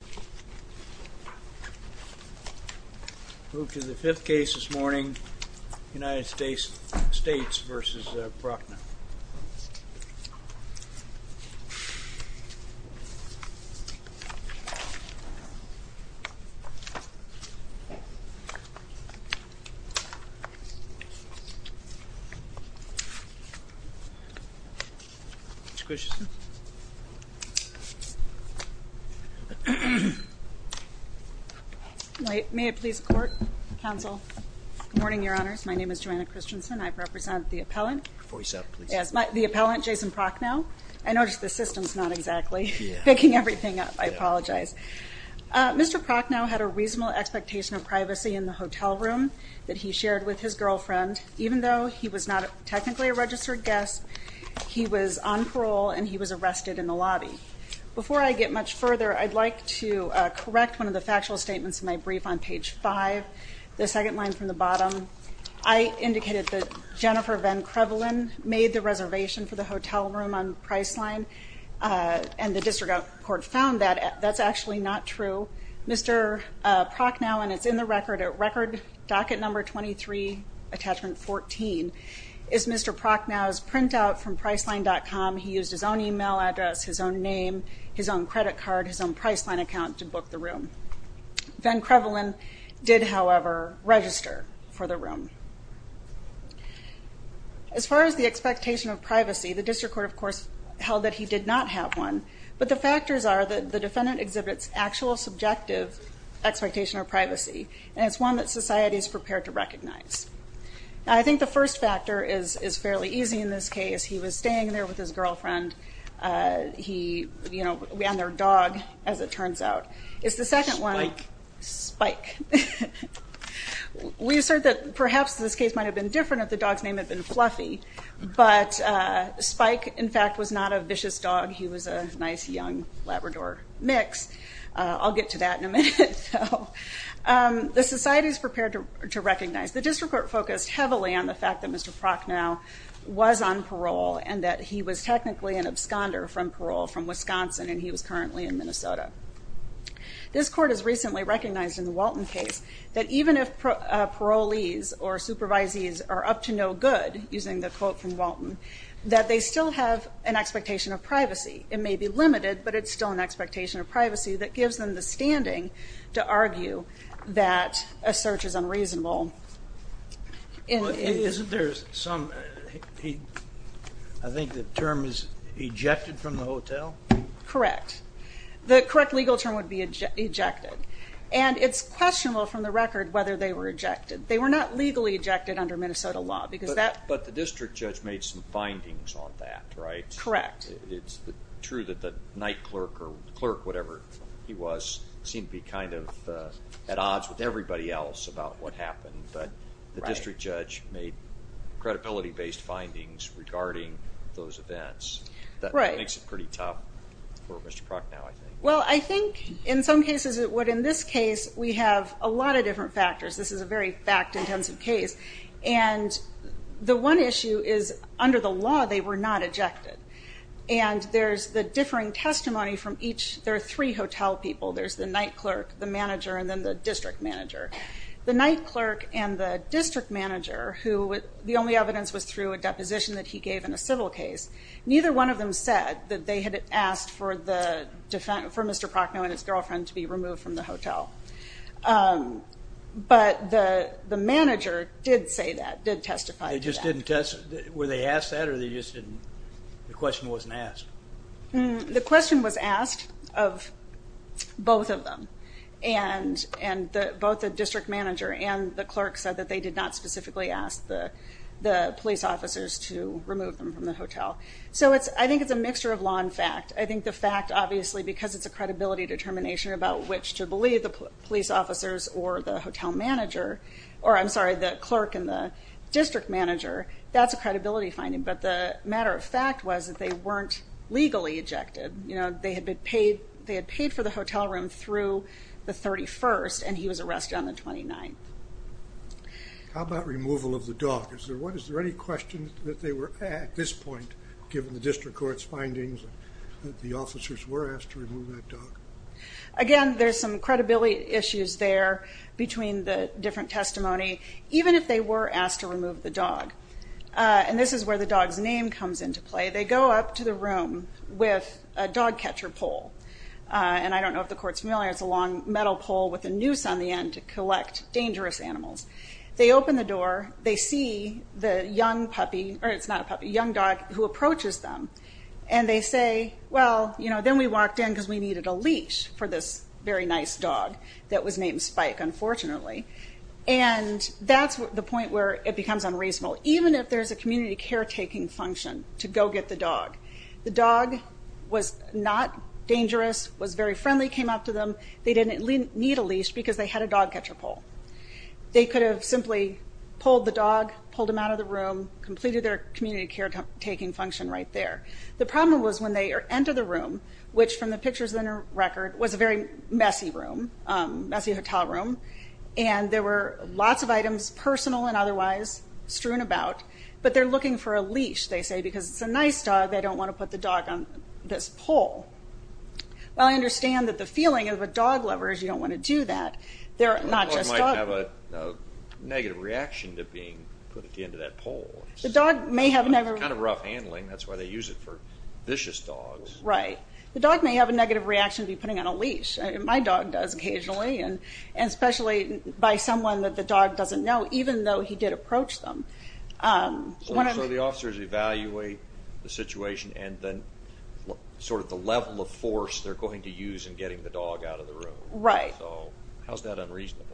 We move to the fifth case this morning, United States v. Jason Proknow. May it please the Court, Counsel. Good morning, Your Honors. My name is Joanna Christensen. I represent the appellant. Voice up, please. Yes. The appellant, Jason Proknow. I noticed the system's not exactly picking everything up. I apologize. Mr. Proknow had a reasonable expectation of privacy in the hotel room that he shared with his girlfriend. Even though he was not technically a registered guest, he was on parole and he was arrested in the lobby. Before I get much further, I'd like to correct one of the factual statements in my brief on page 5, the second line from the bottom. I indicated that Jennifer Van Crevelen made the reservation for the hotel room on Priceline and the district court found that. That's actually not true. Mr. Proknow, and it's in the record, at record docket number 23, attachment 14, is Mr. Proknow's printout from Priceline.com. He used his own e-mail address, his own name, his own credit card, his own Priceline account to book the room. Van Crevelen did, however, register for the room. As far as the expectation of privacy, the district court, of course, held that he did not have one, but the factors are that the defendant exhibits actual subjective expectation of privacy, and it's one that society is prepared to recognize. I think the first factor is fairly easy in this case. He was staying there with his girlfriend on their dog, as it turns out. It's the second one. Spike. Spike. We assert that perhaps this case might have been different if the dog's name had been Fluffy, but Spike, in fact, was not a vicious dog. He was a nice, young Labrador mix. I'll get to that in a minute. The society is prepared to recognize. and that he was technically an absconder from parole from Wisconsin, and he was currently in Minnesota. This court has recently recognized in the Walton case that even if parolees or supervisees are up to no good, using the quote from Walton, that they still have an expectation of privacy. It may be limited, but it's still an expectation of privacy that gives them the standing to argue that a search is unreasonable. Isn't there some, I think the term is ejected from the hotel? Correct. The correct legal term would be ejected. And it's questionable from the record whether they were ejected. They were not legally ejected under Minnesota law. But the district judge made some findings on that, right? Correct. It's true that the night clerk or clerk, whatever he was, seemed to be kind of at odds with everybody else about what happened. But the district judge made credibility-based findings regarding those events. That makes it pretty tough for Mr. Prock now, I think. Well, I think in some cases it would. In this case, we have a lot of different factors. This is a very fact-intensive case. And the one issue is under the law they were not ejected. And there's the differing testimony from each. There are three hotel people. There's the night clerk, the manager, and then the district manager. The night clerk and the district manager, who the only evidence was through a deposition that he gave in a civil case, neither one of them said that they had asked for Mr. Procknow and his girlfriend to be removed from the hotel. But the manager did say that, did testify to that. They just didn't test? Were they asked that or they just didn't? The question wasn't asked. The question was asked of both of them. And both the district manager and the clerk said that they did not specifically ask the police officers to remove them from the hotel. So I think it's a mixture of law and fact. I think the fact, obviously, because it's a credibility determination about which to believe, the police officers or the hotel manager, or I'm sorry, the clerk and the district manager, that's a credibility finding. But the matter of fact was that they weren't legally ejected. You know, they had paid for the hotel room through the 31st, and he was arrested on the 29th. How about removal of the dog? Is there any question that they were at this point, given the district court's findings, that the officers were asked to remove that dog? Again, there's some credibility issues there between the different testimony, even if they were asked to remove the dog. And this is where the dog's name comes into play. They go up to the room with a dog catcher pole. And I don't know if the court's familiar. It's a long metal pole with a noose on the end to collect dangerous animals. They open the door. They see the young puppy, or it's not a puppy, young dog who approaches them. And they say, well, you know, then we walked in because we needed a leash for this very nice dog that was named Spike, unfortunately. And that's the point where it becomes unreasonable, even if there's a community caretaking function to go get the dog. The dog was not dangerous, was very friendly, came up to them. They didn't need a leash because they had a dog catcher pole. They could have simply pulled the dog, pulled him out of the room, completed their community caretaking function right there. The problem was when they entered the room, which from the pictures in the record was a very messy room, messy hotel room, and there were lots of items, personal and otherwise, strewn about. But they're looking for a leash, they say, because it's a nice dog. They don't want to put the dog on this pole. Well, I understand that the feeling of a dog lover is you don't want to do that. A dog might have a negative reaction to being put at the end of that pole. It's kind of rough handling. That's why they use it for vicious dogs. Right. The dog may have a negative reaction to being put on a leash. My dog does occasionally, and especially by someone that the dog doesn't know, even though he did approach them. So the officers evaluate the situation and then sort of the level of force they're going to use in getting the dog out of the room. Right. So how's that unreasonable?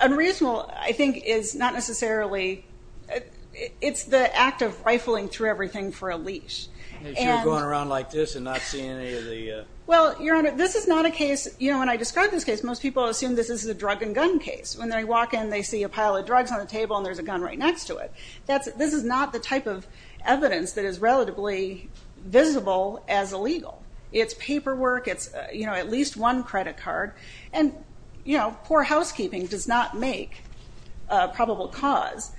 Unreasonable, I think, is not necessarily – it's the act of rifling through everything for a leash. As you're going around like this and not seeing any of the – Well, Your Honor, this is not a case – you know, when I describe this case, most people assume this is a drug and gun case. When they walk in, they see a pile of drugs on the table and there's a gun right next to it. This is not the type of evidence that is relatively visible as illegal. It's paperwork. It's, you know, at least one credit card. And, you know, poor housekeeping does not make a probable cause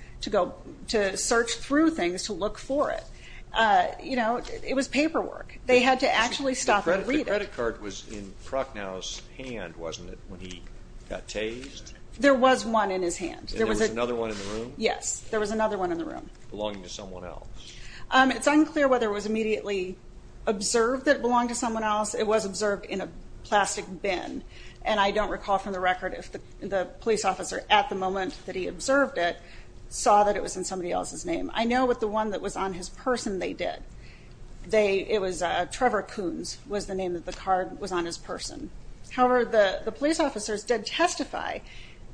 to search through things to look for it. You know, it was paperwork. They had to actually stop and read it. The credit card was in Prochnow's hand, wasn't it, when he got tased? There was one in his hand. And there was another one in the room? Yes, there was another one in the room. Belonging to someone else. It's unclear whether it was immediately observed that it belonged to someone else. It was observed in a plastic bin. And I don't recall from the record if the police officer, at the moment that he observed it, saw that it was in somebody else's name. I know with the one that was on his person, they did. It was Trevor Koons was the name that the card was on his person. However, the police officers did testify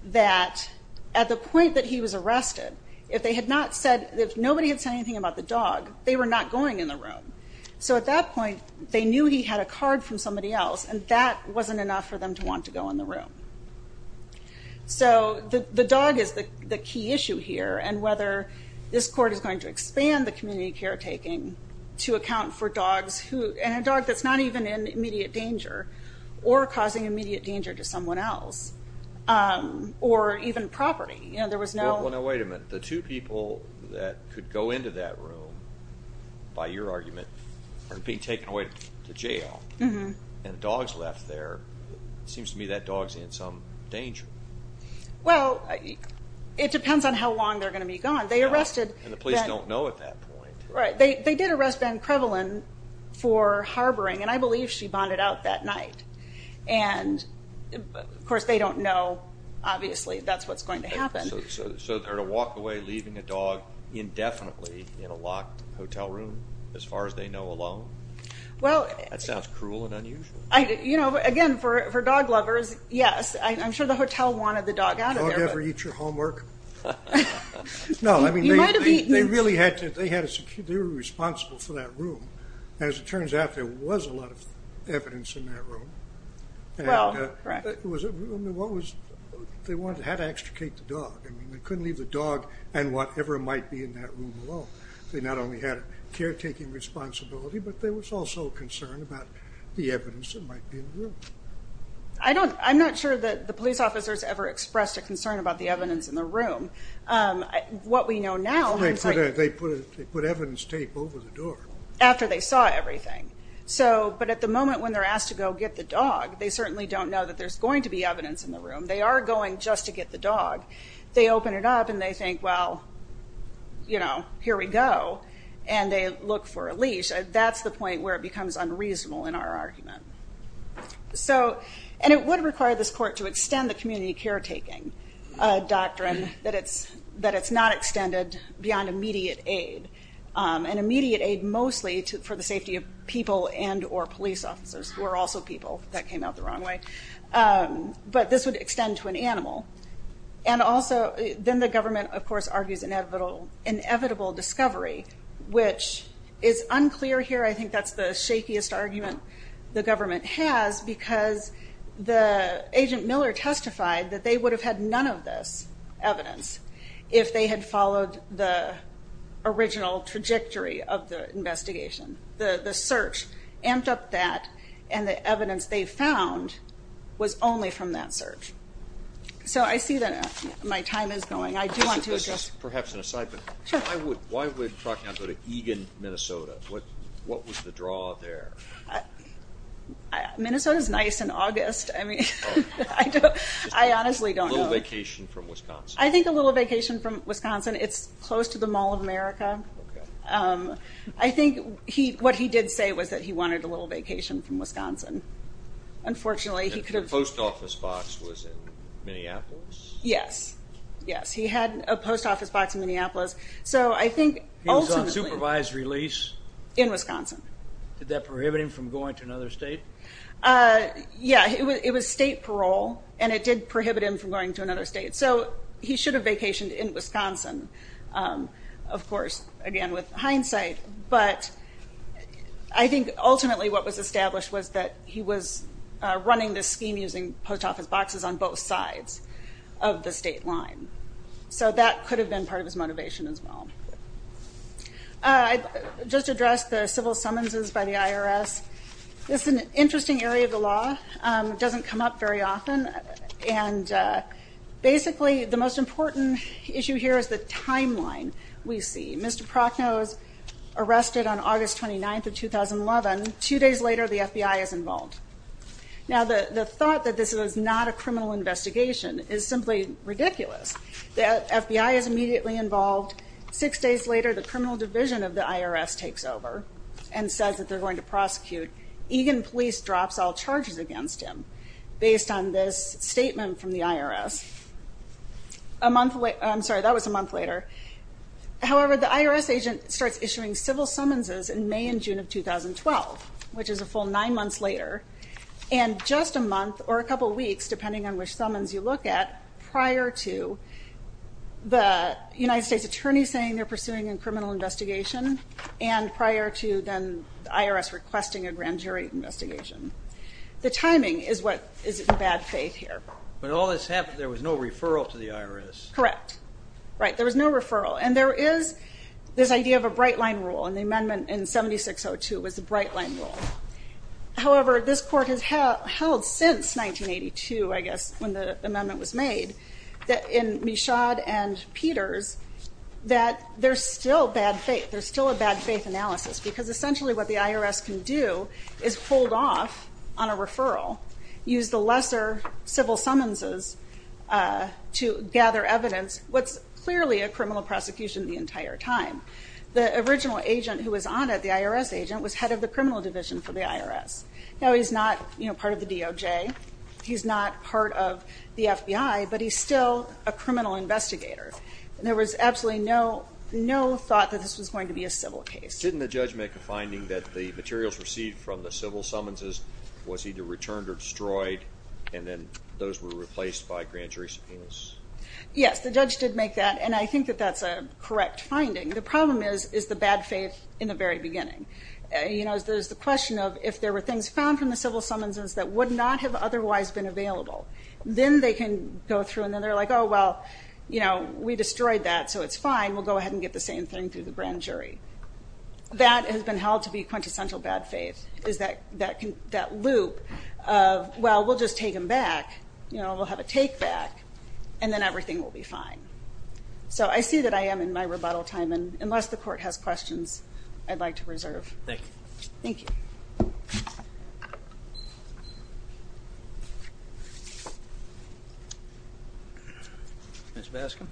that at the point that he was arrested, if nobody had said anything about the dog, they were not going in the room. So at that point, they knew he had a card from somebody else, and that wasn't enough for them to want to go in the room. So the dog is the key issue here, and whether this court is going to expand the community caretaking to account for dogs, and a dog that's not even in immediate danger or causing immediate danger to someone else, or even property. Well, now wait a minute. The two people that could go into that room, by your argument, are being taken away to jail, and a dog's left there. It seems to me that dog's in some danger. Well, it depends on how long they're going to be gone. And the police don't know at that point. Right. They did arrest Ben Crevelin for harboring, and I believe she bonded out that night. And, of course, they don't know, obviously, that's what's going to happen. So they're to walk away leaving a dog indefinitely in a locked hotel room, as far as they know, alone? That sounds cruel and unusual. You know, again, for dog lovers, yes. I'm sure the hotel wanted the dog out of there. Did the dog ever eat your homework? No, I mean, they really had to. They were responsible for that room. As it turns out, there was a lot of evidence in that room. Well, correct. They had to extricate the dog. They couldn't leave the dog and whatever might be in that room alone. They not only had a caretaking responsibility, but there was also concern about the evidence that might be in the room. I'm not sure that the police officers ever expressed a concern about the evidence in the room. What we know now, I'm sorry. They put evidence tape over the door. After they saw everything. But at the moment when they're asked to go get the dog, they certainly don't know that there's going to be evidence in the room. They are going just to get the dog. They open it up and they think, well, you know, here we go. And they look for a leash. That's the point where it becomes unreasonable in our argument. And it would require this court to extend the community caretaking doctrine, that it's not extended beyond immediate aid. And immediate aid mostly for the safety of people and or police officers, who are also people. That came out the wrong way. But this would extend to an animal. And also then the government, of course, argues inevitable discovery, which is unclear here. I think that's the shakiest argument the government has, because the agent Miller testified that they would have had none of this evidence if they had followed the original trajectory of the investigation. The search amped up that. And the evidence they found was only from that search. So I see that my time is going. I do want to address. This is perhaps an aside. Sure. But why would Procter & Gamble go to Eagan, Minnesota? What was the draw there? Minnesota is nice in August. I mean, I honestly don't know. A little vacation from Wisconsin. I think a little vacation from Wisconsin. It's close to the Mall of America. I think what he did say was that he wanted a little vacation from Wisconsin. Unfortunately, he could have. And the post office box was in Minneapolis? Yes. Yes, he had a post office box in Minneapolis. He was on supervised release? In Wisconsin. Did that prohibit him from going to another state? Yeah, it was state parole, and it did prohibit him from going to another state. So he should have vacationed in Wisconsin, of course, again, with hindsight. But I think ultimately what was established was that he was running this scheme using post office boxes on both sides of the state line. So that could have been part of his motivation as well. I just addressed the civil summonses by the IRS. This is an interesting area of the law. It doesn't come up very often. Basically, the most important issue here is the timeline we see. Mr. Prochnow is arrested on August 29th of 2011. Two days later, the FBI is involved. Now, the thought that this was not a criminal investigation is simply ridiculous. The FBI is immediately involved. Six days later, the criminal division of the IRS takes over and says that they're going to prosecute. Egan police drops all charges against him based on this statement from the IRS. I'm sorry, that was a month later. However, the IRS agent starts issuing civil summonses in May and June of 2012, which is a full nine months later, and just a month or a couple weeks, depending on which summons you look at, prior to the United States attorney saying they're pursuing a criminal investigation and prior to then the IRS requesting a grand jury investigation. The timing is what is in bad faith here. But all this happened, there was no referral to the IRS. Correct. Right, there was no referral. And there is this idea of a bright line rule, and the amendment in 7602 was a bright line rule. However, this court has held since 1982, I guess, when the amendment was made, in Michaud and Peters, that there's still bad faith. There's still a bad faith analysis, because essentially what the IRS can do is hold off on a referral, use the lesser civil summonses to gather evidence, what's clearly a criminal prosecution the entire time. The original agent who was on it, the IRS agent, was head of the criminal division for the IRS. Now he's not part of the DOJ. He's not part of the FBI. But he's still a criminal investigator. And there was absolutely no thought that this was going to be a civil case. Didn't the judge make a finding that the materials received from the civil summonses was either returned or destroyed, and then those were replaced by grand jury subpoenas? Yes, the judge did make that, and I think that that's a correct finding. The problem is, is the bad faith in the very beginning. You know, there's the question of if there were things found from the civil summonses that would not have otherwise been available, then they can go through and then they're like, oh, well, you know, we destroyed that, so it's fine. We'll go ahead and get the same thing through the grand jury. That has been held to be quintessential bad faith, is that loop of, well, we'll just take them back. You know, we'll have a take back, and then everything will be fine. So I see that I am in my rebuttal time, and unless the court has questions, I'd like to reserve. Thank you. Thank you. Ms. Bascom.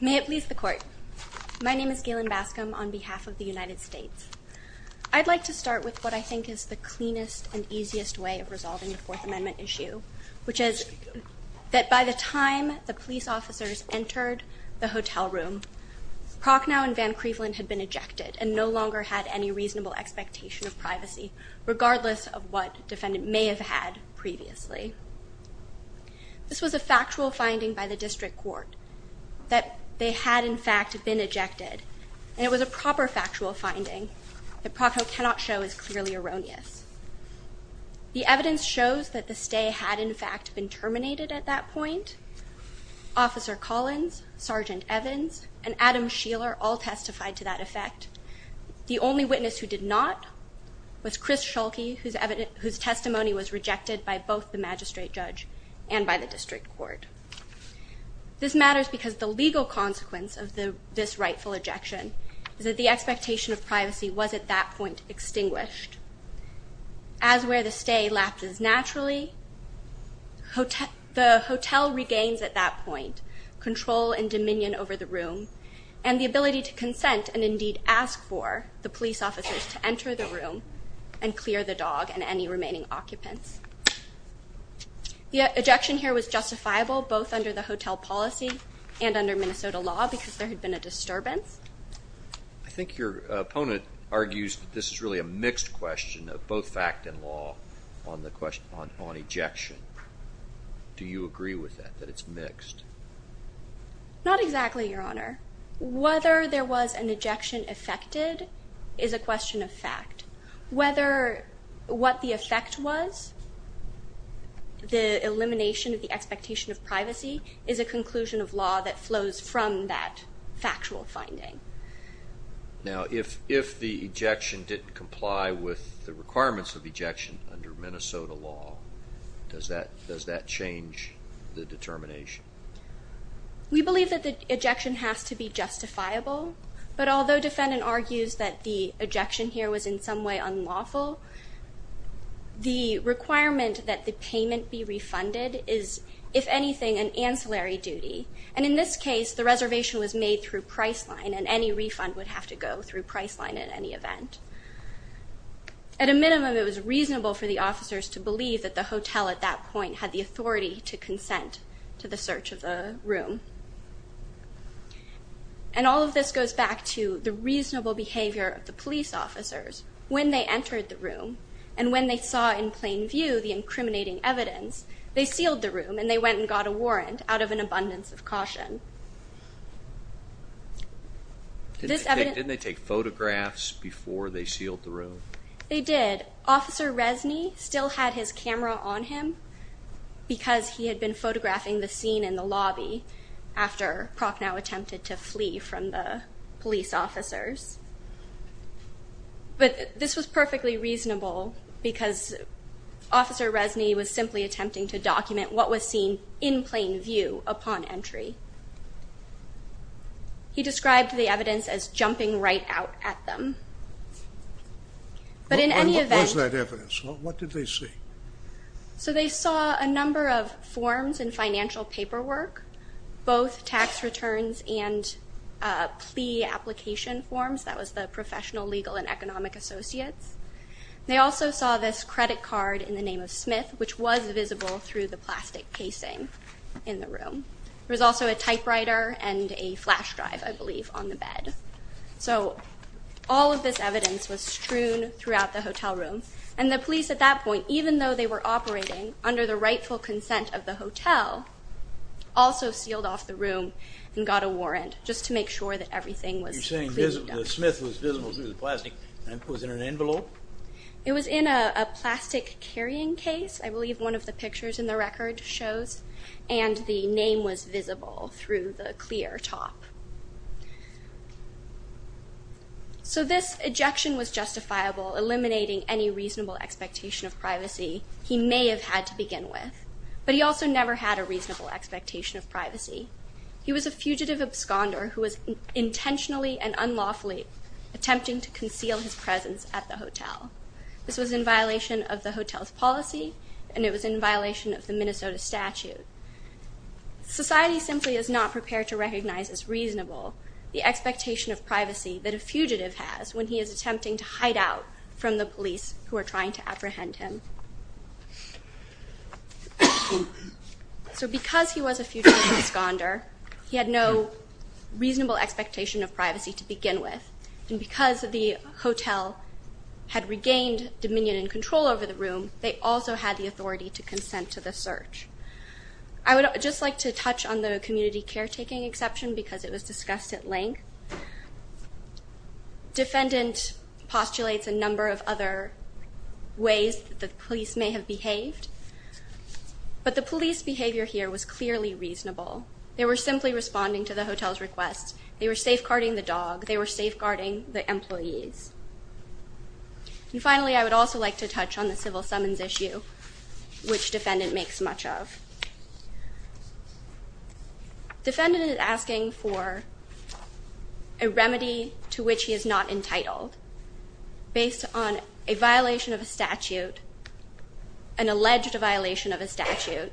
May it please the court. My name is Galen Bascom on behalf of the United States. I'd like to start with what I think is the cleanest and easiest way of resolving the Fourth Amendment issue, which is that by the time the police officers entered the hotel room, Prochnow and Van Cleveland had been ejected and no longer had any reasonable expectation of privacy, regardless of what the defendant may have had previously. This was a factual finding by the district court that they had, in fact, been ejected, and it was a proper factual finding that Prochnow cannot show is clearly erroneous. The evidence shows that the stay had, in fact, been terminated at that point. Officer Collins, Sergeant Evans, and Adam Sheeler all testified to that effect. The only witness who did not was Chris Schuelke, whose testimony was rejected by both the magistrate judge and by the district court. This matters because the legal consequence of this rightful ejection is that the expectation of privacy was at that point extinguished. As where the stay lapses naturally, the hotel regains at that point control and dominion over the room and the ability to consent and indeed ask for the police officers to enter the room and clear the dog and any remaining occupants. The ejection here was justifiable both under the hotel policy and under Minnesota law because there had been a disturbance. I think your opponent argues that this is really a mixed question of both fact and law on ejection. Do you agree with that, that it's mixed? Not exactly, Your Honor. Whether there was an ejection affected is a question of fact. Whether what the effect was, the elimination of the expectation of privacy, is a conclusion of law that flows from that factual finding. Now, if the ejection didn't comply with the requirements of ejection under Minnesota law, does that change the determination? We believe that the ejection has to be justifiable, but although defendant argues that the ejection here was in some way unlawful, the requirement that the payment be refunded is, if anything, an ancillary duty. And in this case, the reservation was made through Priceline and any refund would have to go through Priceline at any event. At a minimum, it was reasonable for the officers to believe that the hotel at that point had the authority to consent to the search of the room. And all of this goes back to the reasonable behavior of the police officers when they entered the room and when they saw in plain view the incriminating evidence, they sealed the room and they went and got a warrant out of an abundance of caution. Didn't they take photographs before they sealed the room? They did. Officer Resney still had his camera on him because he had been photographing the scene in the lobby after Prochnow attempted to flee from the police officers. But this was perfectly reasonable because Officer Resney was simply attempting to document what was seen in plain view upon entry. He described the evidence as jumping right out at them. But in any event... What was that evidence? What did they see? So they saw a number of forms and financial paperwork, both tax returns and plea application forms. That was the Professional Legal and Economic Associates. They also saw this credit card in the name of Smith, which was visible through the plastic casing in the room. There was also a typewriter and a flash drive, I believe, on the bed. So all of this evidence was strewn throughout the hotel room. And the police at that point, even though they were operating under the rightful consent of the hotel, also sealed off the room and got a warrant just to make sure that everything was cleaned up. You're saying the Smith was visible through the plastic and was in an envelope? It was in a plastic carrying case, I believe one of the pictures in the record shows, and the name was visible through the clear top. So this ejection was justifiable, eliminating any reasonable expectation of privacy he may have had to begin with. But he also never had a reasonable expectation of privacy. He was a fugitive absconder who was intentionally and unlawfully attempting to conceal his presence at the hotel. This was in violation of the hotel's policy, and it was in violation of the Minnesota statute. Society simply is not prepared to recognize as reasonable the expectation of privacy that a fugitive has when he is attempting to hide out from the police who are trying to apprehend him. So because he was a fugitive absconder, he had no reasonable expectation of privacy to begin with. And because the hotel had regained dominion and control over the room, they also had the authority to consent to the search. I would just like to touch on the community caretaking exception because it was discussed at length. Defendant postulates a number of other ways that the police may have behaved, but the police behavior here was clearly reasonable. They were simply responding to the hotel's request. They were safeguarding the dog. They were safeguarding the employees. And finally, I would also like to touch on the civil summons issue, which defendant makes much of. Defendant is asking for a remedy to which he is not entitled based on a violation of a statute, an alleged violation of a statute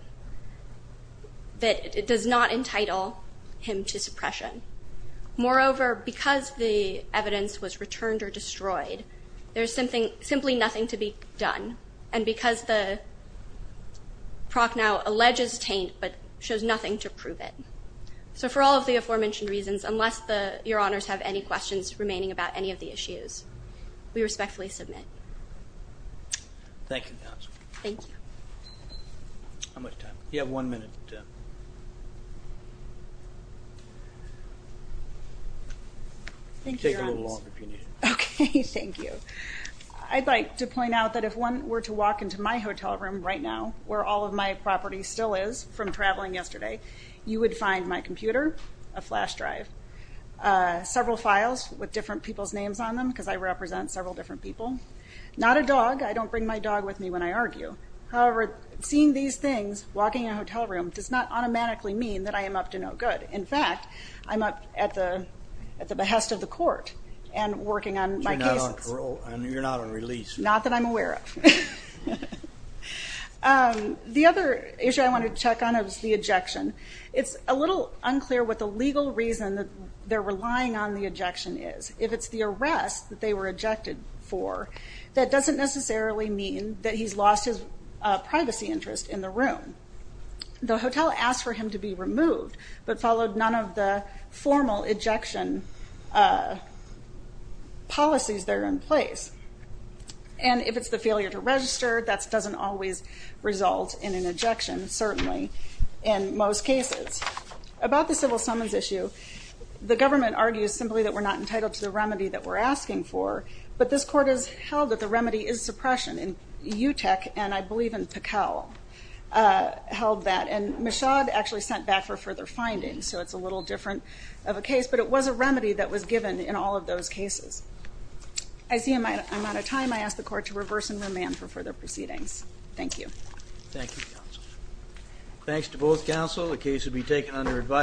that does not entitle him to suppression. Moreover, because the evidence was returned or destroyed, there is simply nothing to be done. And because the proc now alleges taint but shows nothing to prove it. So for all of the aforementioned reasons, unless your honors have any questions remaining about any of the issues, we respectfully submit. Thank you, counsel. Thank you. How much time? You have one minute. Tim. Take a little longer if you need it. Okay. Thank you. I'd like to point out that if one were to walk into my hotel room right now, where all of my property still is from traveling yesterday, you would find my computer, a flash drive, several files with different people's names on them because I represent several different people. I don't bring my dog with me when I argue. However, seeing these things, walking in a hotel room, does not automatically mean that I am up to no good. In fact, I'm up at the behest of the court and working on my cases. So you're not on parole. You're not on release. Not that I'm aware of. The other issue I wanted to check on is the ejection. It's a little unclear what the legal reason that they're relying on the ejection is. If it's the arrest that they were ejected for, that doesn't necessarily mean that he's lost his privacy interest in the room. The hotel asked for him to be removed but followed none of the formal ejection policies that are in place. And if it's the failure to register, that doesn't always result in an ejection, certainly in most cases. About the civil summons issue, the government argues simply that we're not entitled to the remedy that we're asking for. But this court has held that the remedy is suppression. And UTEC, and I believe in Pacal, held that. And Michaud actually sent back for further findings. So it's a little different of a case. But it was a remedy that was given in all of those cases. I see I'm out of time. I ask the court to reverse and remand for further proceedings. Thank you. Thank you, counsel. Thanks to both counsel. The case will be taken under advisory.